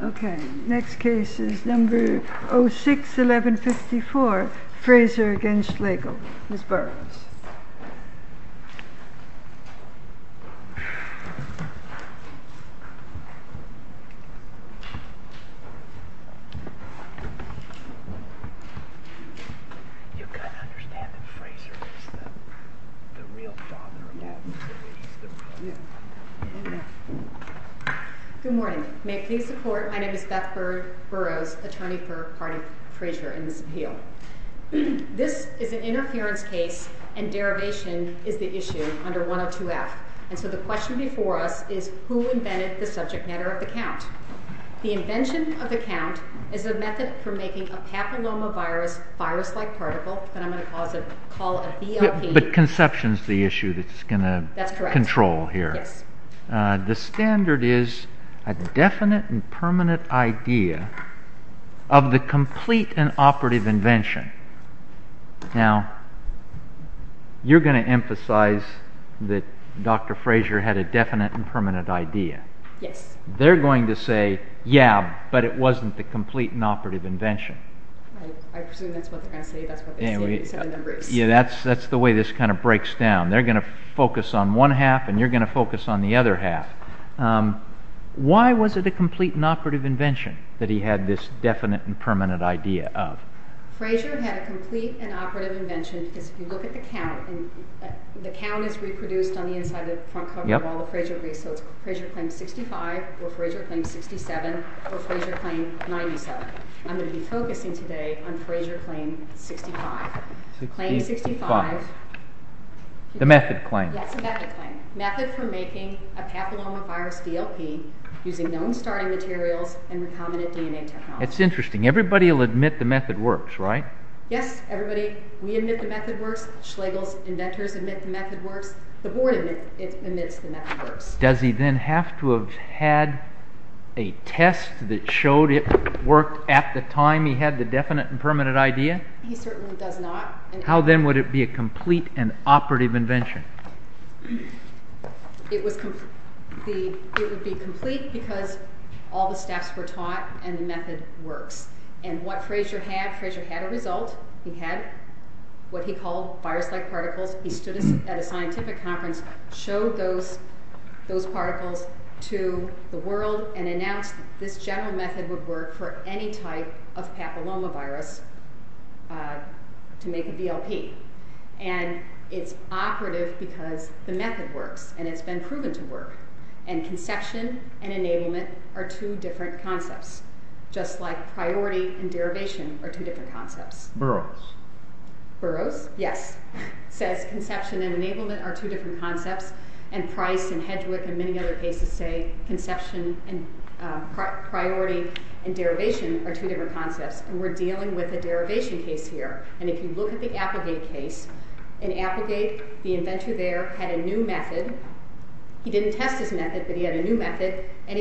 Okay, next case is number 06-1154, Frazer v. Schlegel. Ms. Burrows. Good morning, may it please the court, my name is Beth Burrows, attorney for Hardy Frazer in this appeal. This is an interference case and derivation is the issue under 102-F. And so the question before us is who invented the subject matter of the count? The invention of the count is a method for making a papillomavirus virus-like particle that I'm going to call a BLP. But conception is the issue that's going to control here. That's correct, yes. The standard is a definite and permanent idea of the complete and operative invention. Now, you're going to emphasize that Dr. Frazer had a definite and permanent idea. Yes. They're going to say, yeah, but it wasn't the complete and operative invention. I presume that's what they're going to say, that's what they're saying except the numbers. Yeah, that's the way this kind of breaks down. They're going to focus on one half and you're going to focus on the other half. Why was it a complete and operative invention that he had this definite and permanent idea of? Frazer had a complete and operative invention because if you look at the count, the count is reproduced on the inside of the front cover of all the Frazer briefs, so it's Frazer claim 65 or Frazer claim 67 or Frazer claim 97. I'm going to be focusing today on Frazer claim 65. Claim 65. The method claim. Yes, the method claim. Method for making a papillomavirus DLP using known starting materials and recombinant DNA technology. That's interesting. Everybody will admit the method works, right? Yes, everybody. We admit the method works. Schlegel's inventors admit the method works. The board admits the method works. Does he then have to have had a test that showed it worked at the time he had the definite and permanent idea? He certainly does not. How then would it be a complete and operative invention? It would be complete because all the steps were taught and the method works. And what Frazer had, Frazer had a result. He had what he called virus-like particles. He stood at a scientific conference, showed those particles to the world, and announced this general method would work for any type of papillomavirus to make a DLP. And it's operative because the method works, and it's been proven to work. And conception and enablement are two different concepts, just like priority and derivation are two different concepts. Burroughs. Burroughs, yes. It says conception and enablement are two different concepts, and Price and Hedwig and many other cases say conception and priority and derivation are two different concepts. And we're dealing with a derivation case here. And if you look at the Applegate case, in Applegate, the inventor there had a new method. He didn't test his method, but he had a new method, and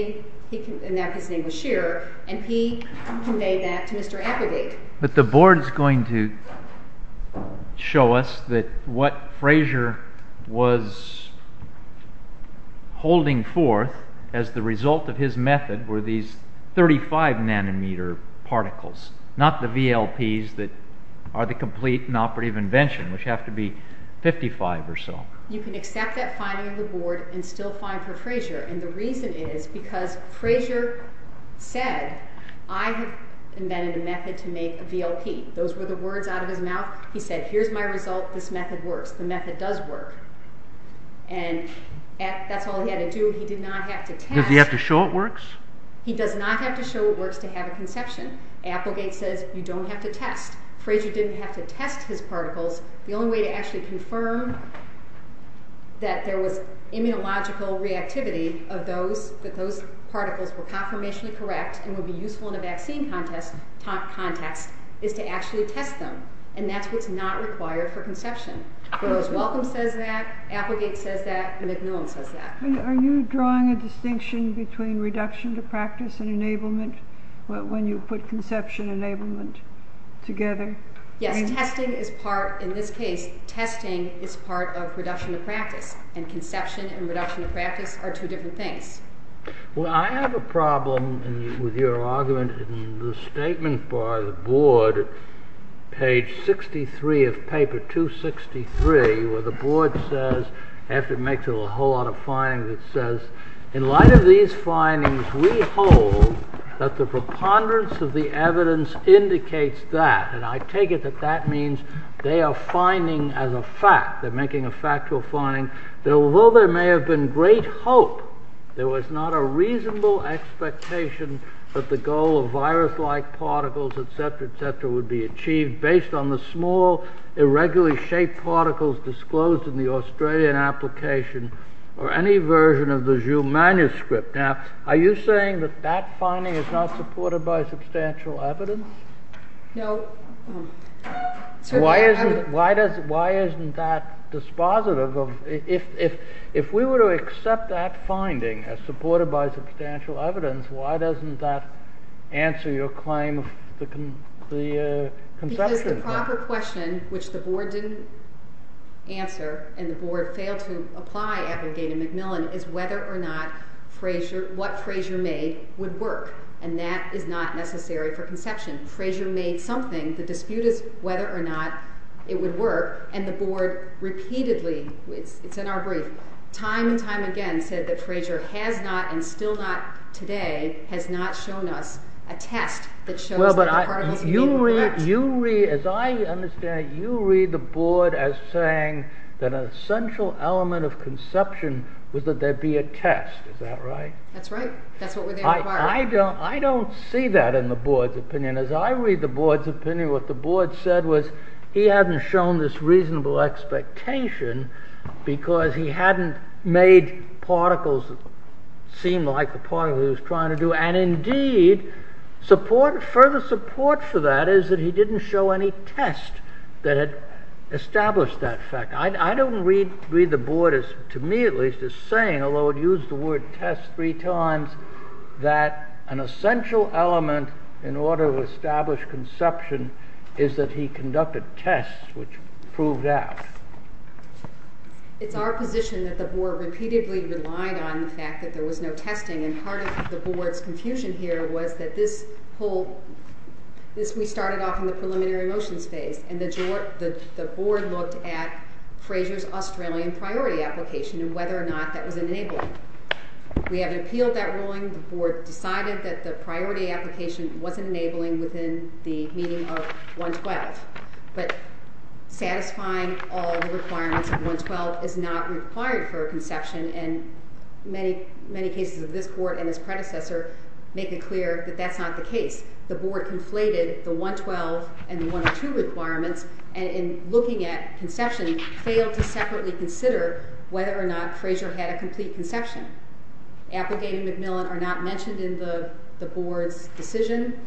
his name was Scheer, and he conveyed that to Mr. Applegate. But the board is going to show us that what Fraser was holding forth as the result of his method were these 35 nanometer particles, not the VLPs that are the complete and operative invention, which have to be 55 or so. You can accept that finding of the board and still find for Fraser. And the reason is because Fraser said, I have invented a method to make a VLP. Those were the words out of his mouth. He said, here's my result. This method works. The method does work. And that's all he had to do. He did not have to test. Does he have to show it works? He does not have to show it works to have a conception. Applegate says you don't have to test. Fraser didn't have to test his particles. The only way to actually confirm that there was immunological reactivity of those, that those particles were confirmationally correct and would be useful in a vaccine context, is to actually test them. And that's what's not required for conception. Rose Welcome says that. Applegate says that. MacMillan says that. Are you drawing a distinction between reduction to practice and enablement when you put conception and enablement together? Yes. Testing is part, in this case, testing is part of reduction to practice. And conception and reduction to practice are two different things. Well, I have a problem with your argument in the statement by the board, page 63 of paper 263, where the board says, after it makes a whole lot of findings, it says, in light of these findings, we hold that the preponderance of the evidence indicates that, and I take it that that means they are finding as a fact, they're making a factual finding, that although there may have been great hope, there was not a reasonable expectation that the goal of virus-like particles, etc., etc., would be achieved, based on the small, irregularly shaped particles disclosed in the Australian application, or any version of the Jew manuscript. Now, are you saying that that finding is not supported by substantial evidence? No. Why isn't that dispositive? If we were to accept that finding as supported by substantial evidence, why doesn't that answer your claim of the conception? The proper question, which the board didn't answer, and the board failed to apply at McGee to MacMillan, is whether or not what Fraser made would work. And that is not necessary for conception. Fraser made something. The dispute is whether or not it would work. And the board repeatedly, it's in our brief, time and time again, said that Fraser has not, and still not today, has not shown us a test that shows that the particles are correct. You read, as I understand it, you read the board as saying that an essential element of conception was that there be a test. Is that right? That's right. That's what we're there for. I don't see that in the board's opinion. As I read the board's opinion, what the board said was he hadn't shown this reasonable expectation, because he hadn't made particles seem like the particles he was trying to do. And indeed, further support for that is that he didn't show any test that had established that fact. I don't read the board, to me at least, as saying, although it used the word test three times, that an essential element in order to establish conception is that he conducted tests, which proved out. It's our position that the board repeatedly relied on the fact that there was no testing. And part of the board's confusion here was that this whole, this, we started off in the preliminary motions phase, and the board looked at Fraser's Australian priority application and whether or not that was enabling. We haven't appealed that ruling. The board decided that the priority application wasn't enabling within the meeting of 112. But satisfying all the requirements of 112 is not required for conception, and many, many cases of this court and his predecessor make it clear that that's not the case. The board conflated the 112 and the 102 requirements, and in looking at conception, failed to separately consider whether or not Fraser had a complete conception. Applegate and Macmillan are not mentioned in the board's decision.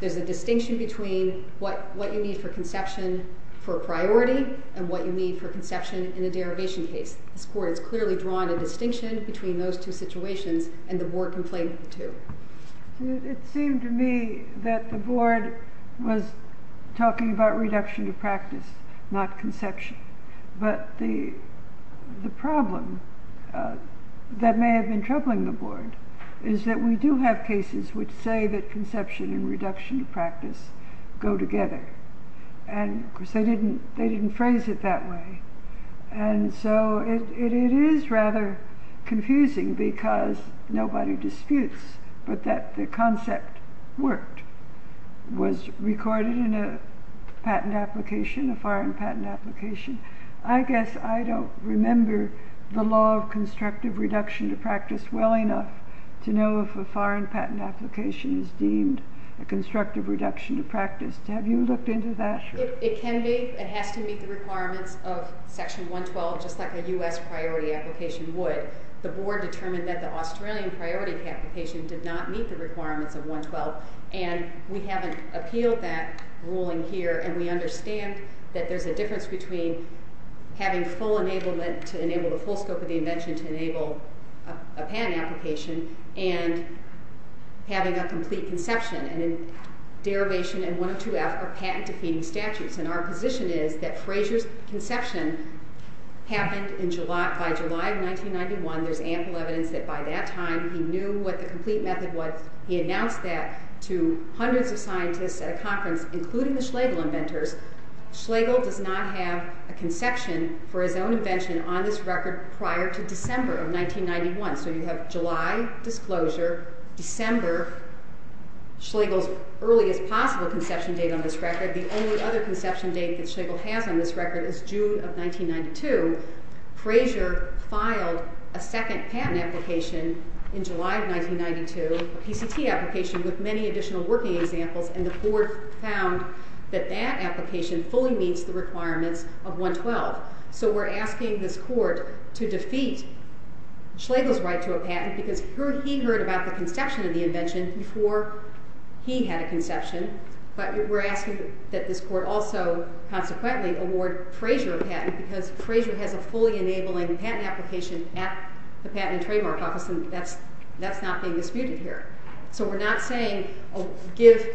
There's a distinction between what you need for conception for a priority and what you need for conception in a derivation case. This court has clearly drawn a distinction between those two situations, and the board conflated the two. It seemed to me that the board was talking about reduction of practice, not conception. But the problem that may have been troubling the board is that we do have cases which say that conception and reduction of practice go together. And, of course, they didn't phrase it that way. And so it is rather confusing because nobody disputes that the concept worked, was recorded in a patent application, a foreign patent application. I guess I don't remember the law of constructive reduction of practice well enough to know if a foreign patent application is deemed a constructive reduction of practice. Have you looked into that? It can be. It has to meet the requirements of Section 112, just like a U.S. priority application would. The board determined that the Australian priority application did not meet the requirements of 112, and we haven't appealed that ruling here. And we understand that there's a difference between having full enablement to enable the full scope of the invention to enable a patent application and having a complete conception and a derivation in 102F of patent-defeating statutes. And our position is that Fraser's conception happened by July of 1991. There's ample evidence that by that time he knew what the complete method was. He announced that to hundreds of scientists at a conference, including the Schlegel inventors. Schlegel does not have a conception for his own invention on this record prior to December of 1991. So you have July, disclosure, December, Schlegel's earliest possible conception date on this record. The only other conception date that Schlegel has on this record is June of 1992. Fraser filed a second patent application in July of 1992, a PCT application with many additional working examples, and the board found that that application fully meets the requirements of 112. So we're asking this court to defeat Schlegel's right to a patent because he heard about the conception of the invention before he had a conception. But we're asking that this court also consequently award Fraser a patent because Fraser has a fully enabling patent application at the Patent and Trademark Office, and that's not being disputed here. So we're not saying give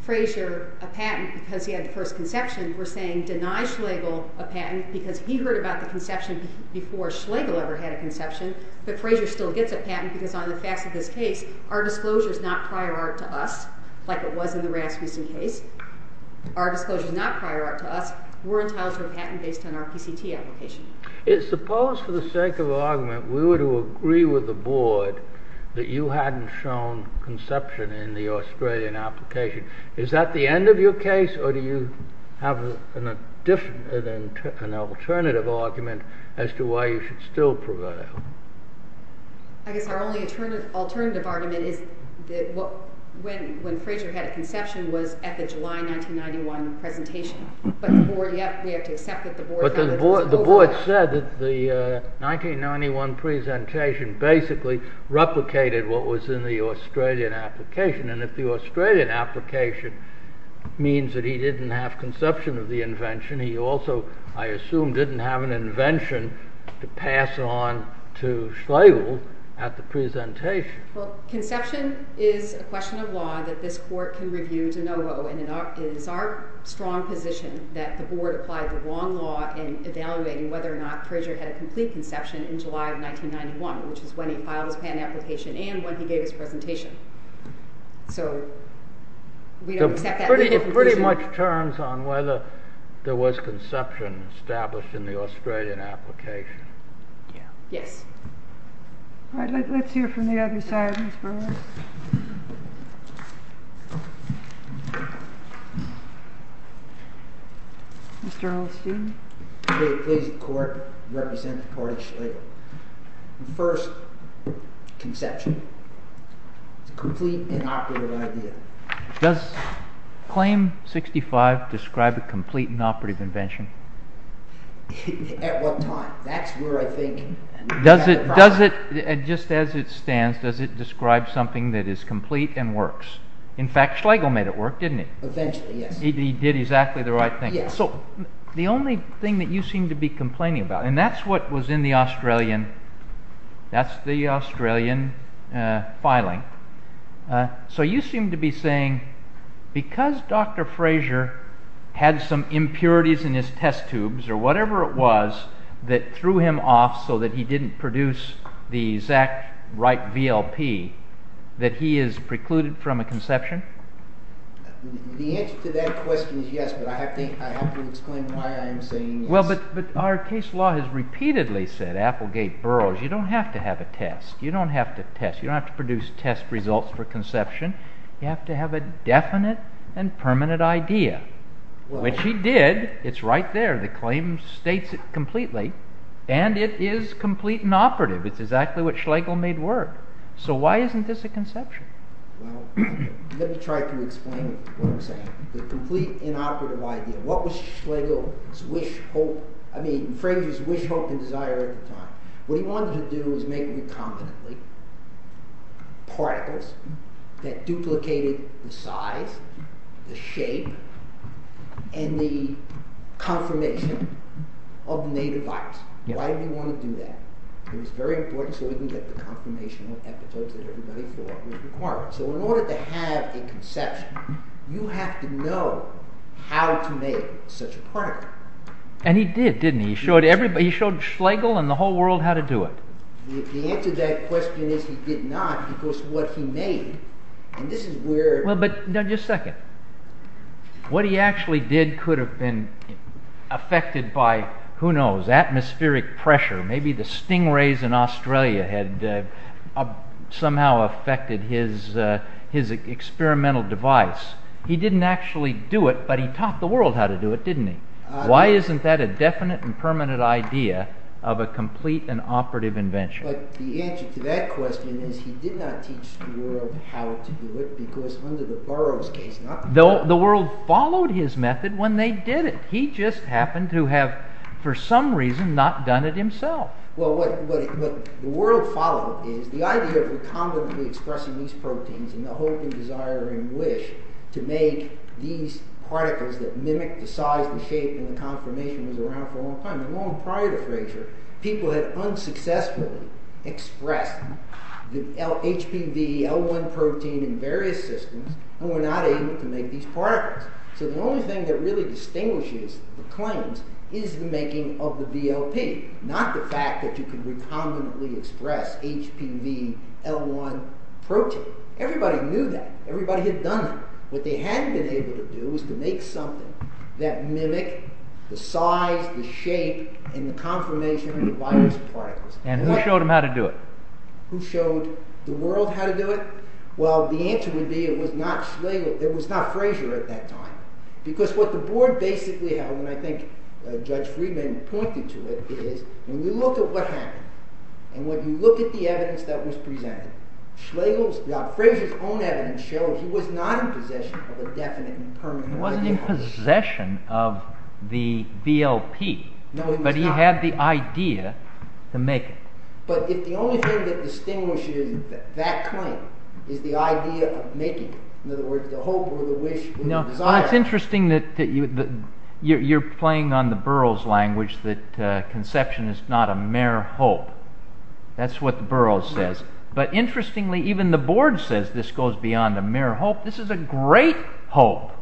Fraser a patent because he had the first conception. We're saying deny Schlegel a patent because he heard about the conception before Schlegel ever had a conception, but Fraser still gets a patent because on the facts of this case, our disclosure is not prior art to us, like it was in the Rasmussen case. Our disclosure is not prior art to us. We're entitled to a patent based on our PCT application. Suppose, for the sake of argument, we were to agree with the board that you hadn't shown conception in the Australian application. Is that the end of your case, or do you have an alternative argument as to why you should still prevail? I guess our only alternative argument is when Fraser had a conception was at the July 1991 presentation. But the board said that the 1991 presentation basically replicated what was in the Australian application, and if the Australian application means that he didn't have conception of the invention, he also, I assume, didn't have an invention to pass on to Schlegel at the presentation. Well, conception is a question of law that this court can review de novo, and it is our strong position that the board applied the wrong law in evaluating whether or not Fraser had a complete conception in July of 1991, which is when he filed his patent application and when he gave his presentation. So, we don't accept that. It pretty much turns on whether there was conception established in the Australian application. Yes. All right, let's hear from the other side. Mr. Olsteen. The way it plays the court, it represents the court of Schlegel. First, conception. It's a complete and operative idea. Does claim 65 describe a complete and operative invention? At what time? That's where I think… Just as it stands, does it describe something that is complete and works? In fact, Schlegel made it work, didn't he? Eventually, yes. He did exactly the right thing. So, the only thing that you seem to be complaining about, and that's what was in the Australian filing. So, you seem to be saying because Dr. Fraser had some impurities in his test tubes or whatever it was that threw him off so that he didn't produce the exact right VLP, that he is precluded from a conception? The answer to that question is yes, but I have to explain why I am saying yes. But our case law has repeatedly said, Applegate, Burroughs, you don't have to have a test. You don't have to produce test results for conception. You have to have a definite and permanent idea, which he did. It's right there. The claim states it completely. And it is complete and operative. It's exactly what Schlegel made work. So, why isn't this a conception? Well, let me try to explain what I'm saying. The complete and operative idea. What was Schlegel's wish, hope, I mean, Fraser's wish, hope, and desire at the time. What he wanted to do was make recombinantly particles that duplicated the size, the shape, and the confirmation of the native virus. Why did he want to do that? It was very important so he could get the confirmation of epitopes that everybody thought was required. So, in order to have a conception, you have to know how to make such a particle. And he did, didn't he? He showed Schlegel and the whole world how to do it. The answer to that question is he did not, because what he made, and this is where... Well, but, no, just a second. What he actually did could have been affected by, who knows, atmospheric pressure, maybe the stingrays in Australia had somehow affected his experimental device. He didn't actually do it, but he taught the world how to do it, didn't he? Why isn't that a definite and permanent idea of a complete and operative invention? But the answer to that question is he did not teach the world how to do it because under the Burroughs case... The world followed his method when they did it. He just happened to have, for some reason, not done it himself. Well, what the world followed is the idea of recombinantly expressing these proteins in the hope and desire and wish to make these particles that mimic the size and shape and the confirmation was around for a long time. Long prior to Fraser, people had unsuccessfully expressed the HPV, L1 protein in various systems and were not able to make these particles. So the only thing that really distinguishes the claims is the making of the VLP, not the fact that you can recombinantly express HPV, L1 protein. Everybody knew that. Everybody had done it. What they hadn't been able to do was to make something that mimicked the size, the shape, and the confirmation of the virus particles. And who showed them how to do it? Who showed the world how to do it? Well, the answer would be it was not Fraser at that time. Because what the board basically held, and I think Judge Friedman pointed to it, is when you look at what happened, and when you look at the evidence that was presented, Fraser's own evidence shows he was not in possession of a definite and permanent... He wasn't in possession of the VLP. No, he was not. But he had the idea to make it. But if the only thing that distinguishes that claim is the idea of making it, in other words, the hope or the wish or the desire... It's interesting that you're playing on the Burroughs language that conception is not a mere hope. That's what the Burroughs says. But interestingly, even the board says this goes beyond a mere hope. This is a great hope.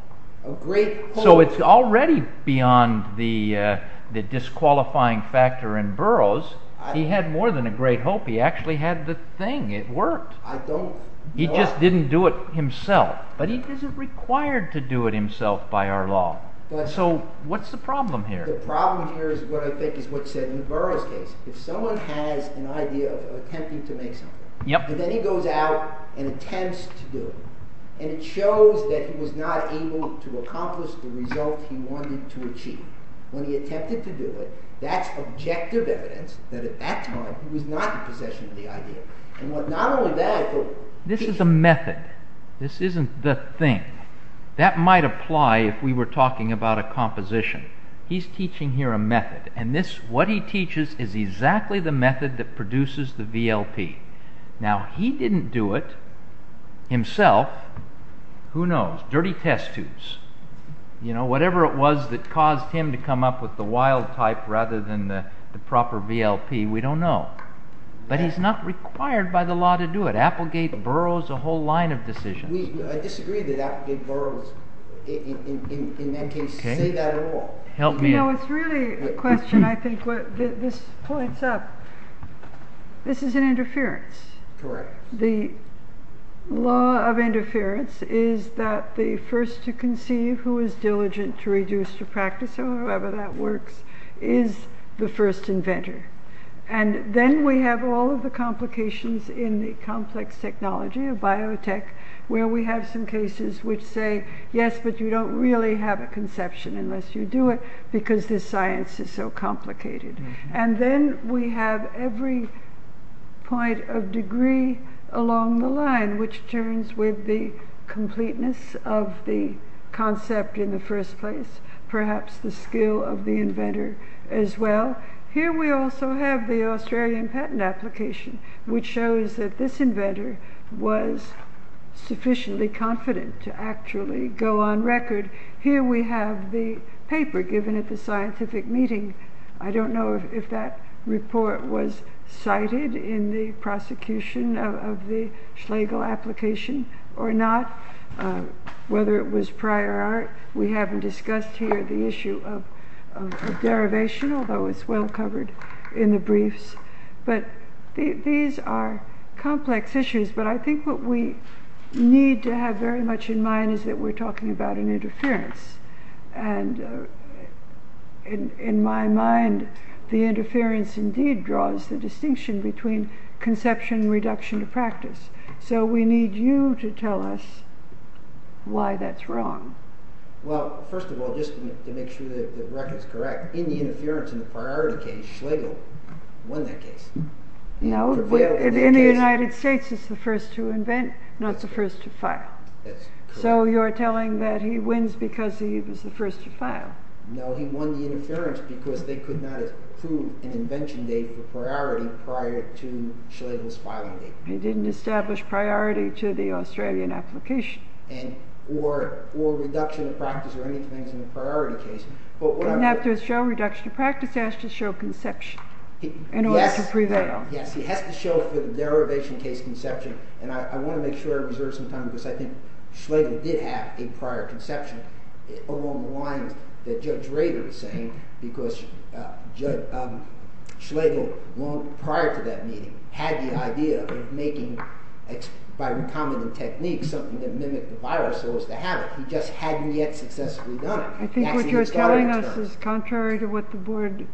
A great hope. So it's already beyond the disqualifying factor in Burroughs. He had more than a great hope. He actually had the thing. It worked. I don't... He just didn't do it himself. But he isn't required to do it himself by our law. So what's the problem here? The problem here is what I think is what's said in the Burroughs case. If someone has an idea of attempting to make something, and then he goes out and attempts to do it, and it shows that he was not able to accomplish the result he wanted to achieve. When he attempted to do it, that's objective evidence that at that time he was not in possession of the idea. And not only that, but... This is a method. This isn't the thing. That might apply if we were talking about a composition. He's teaching here a method. And what he teaches is exactly the method that produces the VLP. Now, he didn't do it himself. Who knows? Dirty test tubes. Whatever it was that caused him to come up with the wild type rather than the proper VLP, we don't know. But he's not required by the law to do it. Applegate burrows a whole line of decisions. I disagree that Applegate burrows, in that case, say that at all. It's really a question, I think, this points up. This is an interference. The law of interference is that the first to conceive who is diligent to reduce to practice, or however that works, is the first inventor. And then we have all of the complications in the complex technology of biotech where we have some cases which say, yes, but you don't really have a conception unless you do it because this science is so complicated. And then we have every point of degree along the line which turns with the completeness of the concept in the first place, perhaps the skill of the inventor as well. Here we also have the Australian patent application which shows that this inventor was sufficiently confident to actually go on record. Here we have the paper given at the scientific meeting. I don't know if that report was cited in the prosecution of the Schlegel application or not, whether it was prior art. We haven't discussed here the issue of derivation, although it's well covered in the briefs. But these are complex issues, but I think what we need to have very much in mind is that we're talking about an interference and in my mind the interference indeed draws the distinction between conception and reduction of practice. So we need you to tell us why that's wrong. Well, first of all, just to make sure the record is correct, in the interference in the priority case, Schlegel won that case. No, in the United States it's the first to invent, not the first to file. So you're telling that he wins because he was the first to file? No, he won the interference because they could not approve an invention date for priority prior to Schlegel's filing date. He didn't establish priority to the Australian application. Or reduction of practice or anything in the priority case. Doesn't have to show reduction of practice, it has to show conception in order to prevail. Yes, he has to show for the derivation case conception and I want to make sure I reserve some time because I think Schlegel did have a prior conception along the lines that Judge Rader is saying because Schlegel, prior to that meeting, had the idea of making, by recombinant techniques, something that mimicked the virus so as to have it. He just hadn't yet successfully done it. I think what you're telling us is contrary to what the board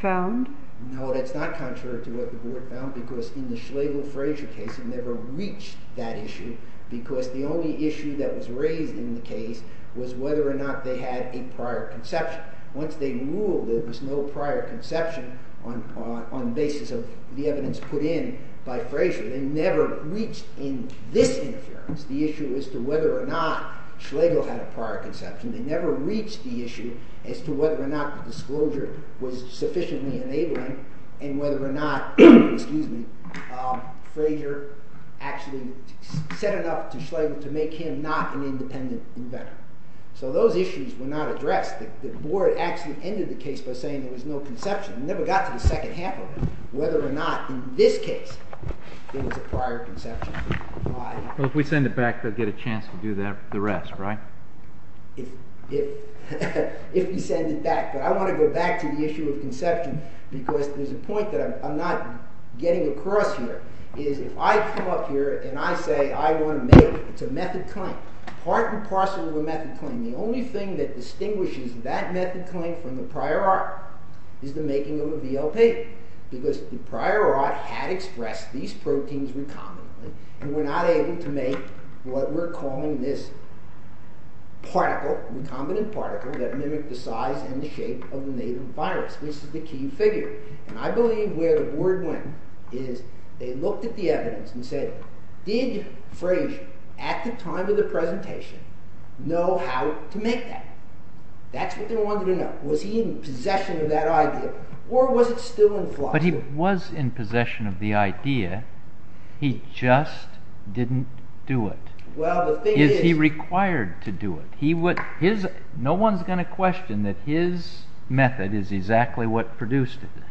found. No, that's not contrary to what the board found because in the Schlegel-Fraser case it never reached that issue because the only issue that was raised in the case was whether or not they had a prior conception. Once they ruled there was no prior conception on the basis of the evidence put in by Fraser, they never reached in this interference the issue as to whether or not Schlegel had a prior conception. They never reached the issue as to whether or not the disclosure was sufficiently enabling and whether or not Fraser actually set it up to Schlegel to make him not an independent inventor. So those issues were not addressed. The board actually ended the case by saying there was no conception. It never got to the second half of it, whether or not in this case there was a prior conception. If we send it back, they'll get a chance to do the rest, right? If we send it back. But I want to go back to the issue of conception because there's a point that I'm not getting across here. If I come up here and I say I want to make it, it's a method claim, part and parcel of a method claim. The only thing that distinguishes that method claim from the prior art is the making of a BLP because the prior art had expressed these proteins recombinantly and we're not able to make what we're calling this particle, recombinant particle that mimics the size and the shape of the native virus. This is the key figure. And I believe where the board went is they looked at the evidence and said, did Frazier at the time of the presentation know how to make that? That's what they wanted to know. Was he in possession of that idea or was it still in philosophy? But he was in possession of the idea. He just didn't do it. Is he required to do it? No one's going to question that his method is exactly what produced it.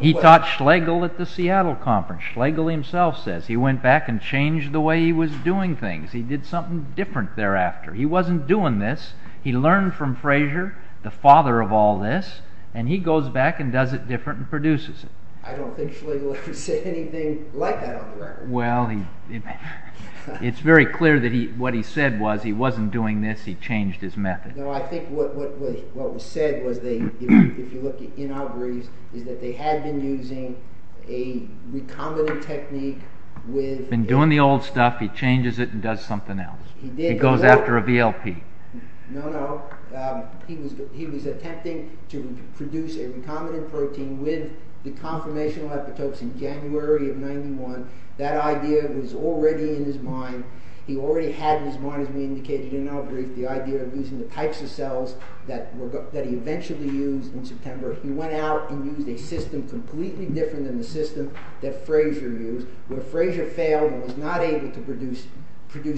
He taught Schlegel at the Seattle conference. Schlegel himself says he went back and changed the way he was doing things. He did something different thereafter. He wasn't doing this. He learned from Frazier, the father of all this, and he goes back and does it different and produces it. I don't think Schlegel ever said anything like that on the record. Well, it's very clear that what he said was he wasn't doing this. He changed his method. No, I think what was said was, if you look in our briefs, is that they had been using a recombinant technique. He'd been doing the old stuff. He changes it and does something else. He goes after a VLP. No, no. He was attempting to produce a recombinant protein with the conformational epitopes in January of 1991. That idea was already in his mind. He already had in his mind, as we indicated in our brief, the idea of using the types of cells that he eventually used in September. He went out and used a system completely different than the system that Frazier used, where Frazier failed and was not able to produce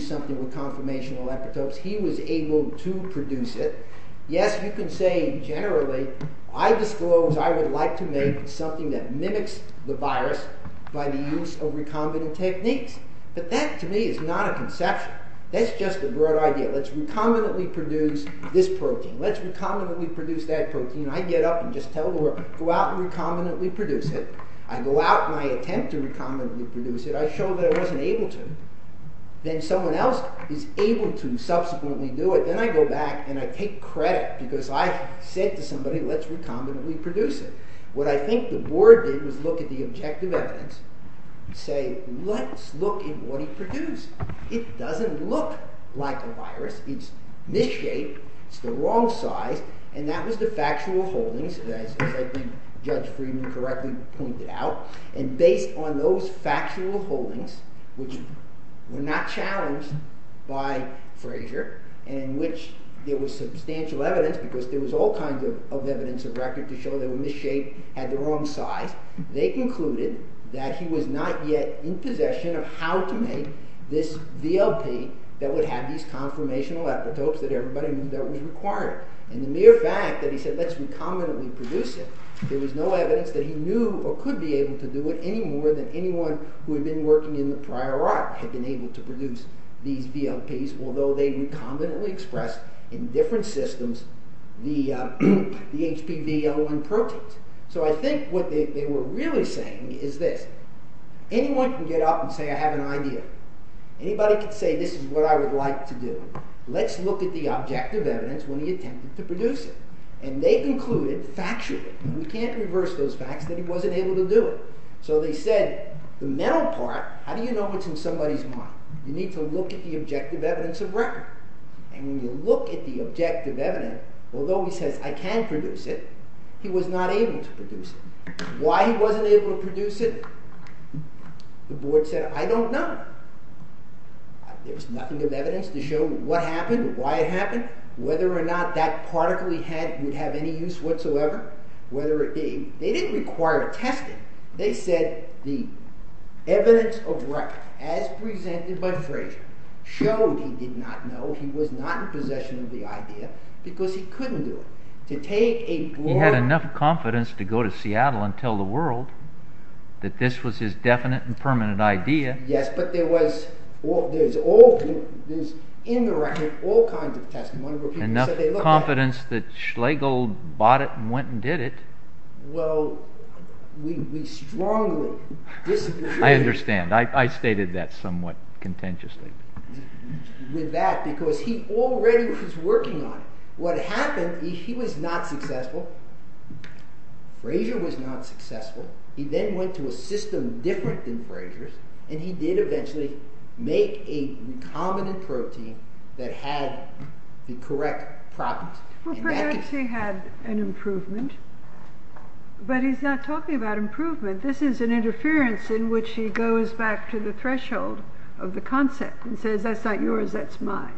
something with conformational epitopes. He was able to produce it. Yes, you can say, generally, I disclose I would like to make something that mimics the virus by the use of recombinant techniques, but that, to me, is not a conception. That's just a broad idea. Let's recombinantly produce this protein. Let's recombinantly produce that protein. I get up and just tell the world, go out and recombinantly produce it. I go out and I attempt to recombinantly produce it. I show that I wasn't able to. Then someone else is able to subsequently do it. Then I go back and I take credit because I said to somebody, let's recombinantly produce it. What I think the board did was look at the objective evidence and say, let's look at what he produced. It doesn't look like a virus. It's misshaped. It's the wrong size. That was the factual holdings, as I think Judge Friedman correctly pointed out. Based on those factual holdings, which were not challenged by Frazier, in which there was substantial evidence because there was all kinds of evidence of record to show they were misshaped, had the wrong size, they concluded that he was not yet in possession of how to make this VLP that would have these conformational epitopes that everybody knew that was required. The mere fact that he said, let's recombinantly produce it, there was no evidence that he knew or could be able to do it any more than anyone who had been working in the prior art had been able to produce these VLPs, although they recombinantly expressed in different systems the HPV-L1 proteins. So I think what they were really saying is this. Anyone can get up and say I have an idea. Anybody can say this is what I would like to do. Let's look at the objective evidence when he attempted to produce it. And they concluded factually, we can't reverse those facts, that he wasn't able to do it. So they said the mental part, how do you know it's in somebody's mind? You need to look at the objective evidence of record. And when you look at the objective evidence, although he says I can produce it, he was not able to produce it. Why he wasn't able to produce it, the board said I don't know. There's nothing of evidence to show what happened, why it happened, whether or not that particle he had would have any use whatsoever. They didn't require testing. They said the evidence of record, as presented by Frazier, showed he did not know, he was not in possession of the idea, because he couldn't do it. He had enough confidence to go to Seattle and tell the world that this was his definite and permanent idea. Yes, but there was, in the record, all kinds of testimony. Enough confidence that Schlegel bought it and went and did it. Well, we strongly disagree. I understand. I stated that somewhat contentiously. With that, because he already was working on it. What happened, he was not successful. Frazier was not successful. He then went to a system different than Frazier's, and he did eventually make a recombinant protein that had the correct properties. Well, perhaps he had an improvement, but he's not talking about improvement. This is an interference in which he goes back to the threshold of the concept and says, that's not yours, that's mine.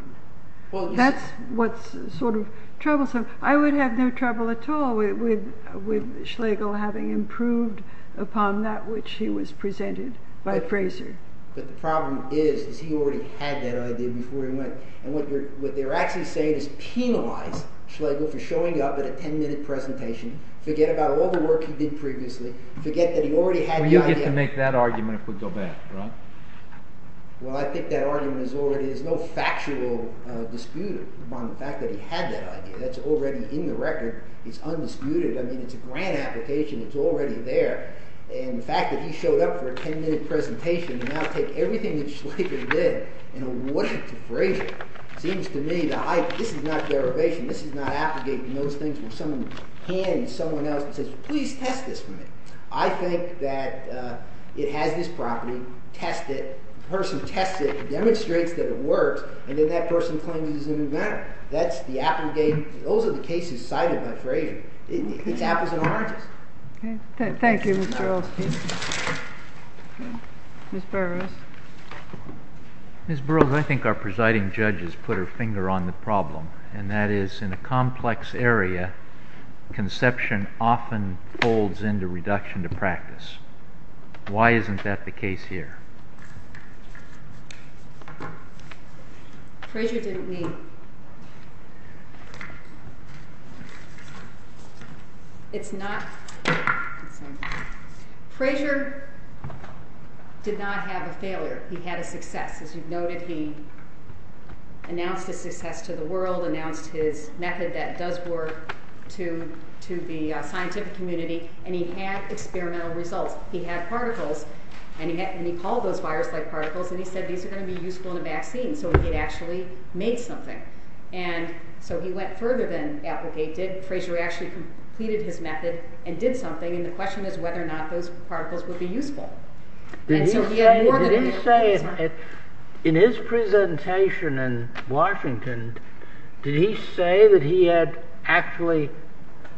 That's what's sort of troublesome. I would have no trouble at all with Schlegel having improved upon that which he was presented by Frazier. But the problem is, is he already had that idea before he went. And what they're actually saying is penalize Schlegel for showing up at a ten-minute presentation. Forget about all the work he did previously. Well, you get to make that argument if we go back, right? Well, I think that argument is already... There's no factual dispute upon the fact that he had that idea. That's already in the record. It's undisputed. I mean, it's a grand application. It's already there. And the fact that he showed up for a ten-minute presentation and now take everything that Schlegel did and award it to Frazier seems to me that this is not derivation. This is not abrogating those things where someone hands someone else and says, please test this for me. I think that it has this property. Test it. The person tests it and demonstrates that it works and then that person claims it's an inventor. That's the abrogation. Those are the cases cited by Frazier. It's apples and oranges. Thank you, Mr. Earls. Ms. Burroughs. Ms. Burroughs, I think our presiding judge has put her finger on the problem and that is in a complex area, conception often folds into reduction to practice. Why isn't that the case here? Frazier did not have a failure. He had a success. As you noted, he announced his success to the world, announced his method that does work to the scientific community and he had experimental results. He had particles and he called those virus-like particles and he said these are going to be useful in a vaccine so he had actually made something. And so he went further than abrogated. Frazier actually completed his method and did something and the question is whether or not those particles would be useful. In his presentation in Washington did he say that he had actually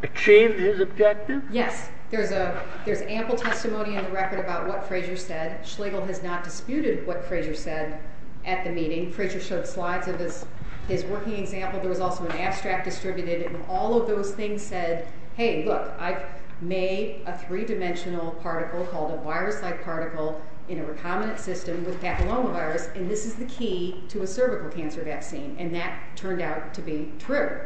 achieved his objective? Yes. There's ample testimony in the record about what Frazier said. Schlegel has not disputed what Frazier said at the meeting. Frazier showed slides of his working example. There was also an abstract distributed and all of those things said, hey, look, I've made a three-dimensional particle called a virus-like particle in a recombinant system with papillomavirus and this is the key to a cervical cancer vaccine and that turned out to be true.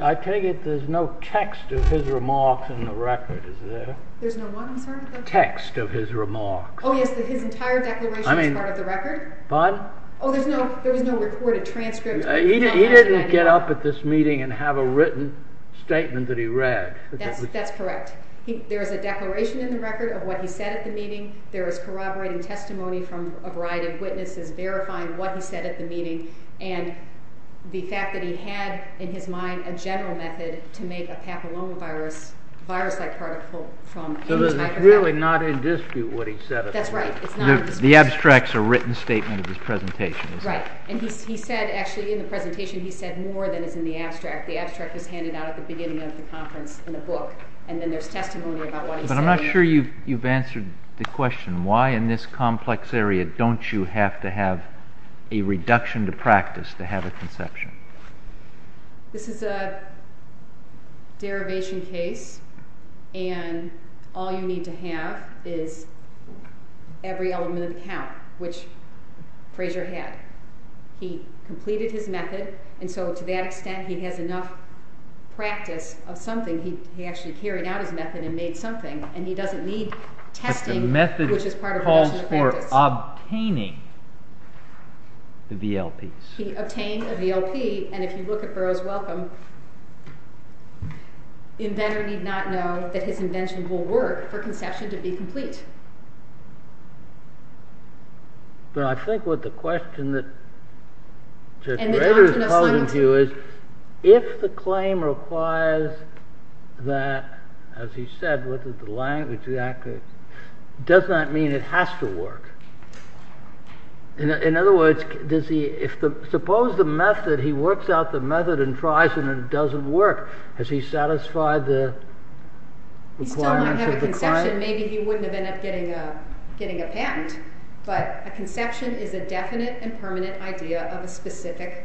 I take it there's no text of his remarks in the record, is there? There's no what, I'm sorry? Text of his remarks. Oh, yes, his entire declaration is part of the record? Pardon? Oh, there was no recorded transcript? He didn't get up at this meeting and have a written statement that he read. That's correct. There is a declaration in the record of what he said at the meeting. There is corroborating testimony from a variety of witnesses verifying what he said at the meeting and the fact that he had in his mind a general method to make a papillomavirus virus-like particle from a new type of cell. So it's really not in dispute what he said at the meeting? That's right, it's not in dispute. The abstract's a written statement of his presentation, is it? Right, and he said actually in the presentation he said more than is in the abstract. The abstract was handed out at the beginning of the conference in a book and then there's testimony about what he said. But I'm not sure you've answered the question. Why in this complex area don't you have to have a reduction to practice to have a conception? This is a derivation case and all you need to have is every element of the count, which Fraser had. He completed his method and so to that extent he has enough practice of something. He actually carried out his method and made something and he doesn't need testing which is part of reduction of practice. The method calls for obtaining the VLPs. He obtained a VLP and if you look at Burroughs' Welcome the inventor need not know that his invention will work for conception to be complete. But I think what the question that Judge Rader's posing to you is if the claim requires that, as he said, does that mean it has to work? In other words, suppose the method, he works out the method and tries and it doesn't work. Has he satisfied the requirements of the client? Maybe he wouldn't have ended up getting a patent but a conception is a definite and permanent idea of a specific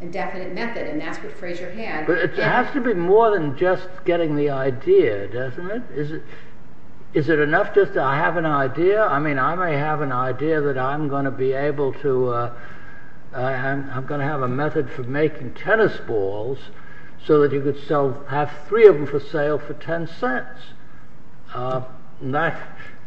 and definite method and that's what Fraser had. It has to be more than just getting the idea, doesn't it? Is it enough just to have an idea? I mean, I may have an idea that I'm going to be able to I'm going to have a method for making tennis balls so that you could have three of them for sale for ten cents.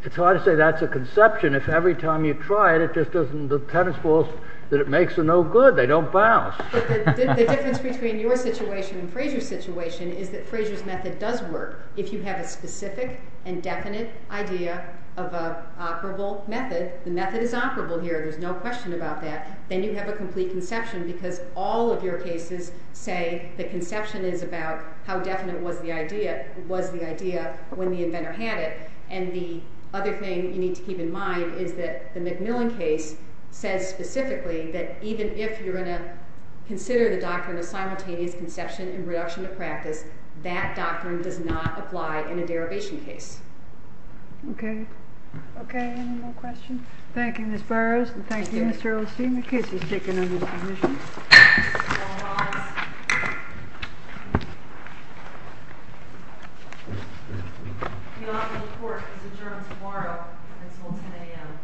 It's hard to say that's a conception if every time you try it, the tennis balls that it makes are no good, they don't bounce. The difference between your situation and Fraser's situation is that Fraser's method does work if you have a specific and definite idea of an operable method. The method is operable here, there's no question about that. Then you have a complete conception because all of your cases say the conception is about how definite was the idea when the inventor had it and the other thing you need to keep in mind is that the Macmillan case says specifically that even if you're going to consider the doctrine of simultaneous conception and reduction of practice that doctrine does not apply in a derivation case. Okay. Any more questions? Thank you, Ms. Burrows, and thank you, Mr. Osteen. The case is taken under submission. All rise. The operable court is adjourned tomorrow at 1210 a.m. Thank you.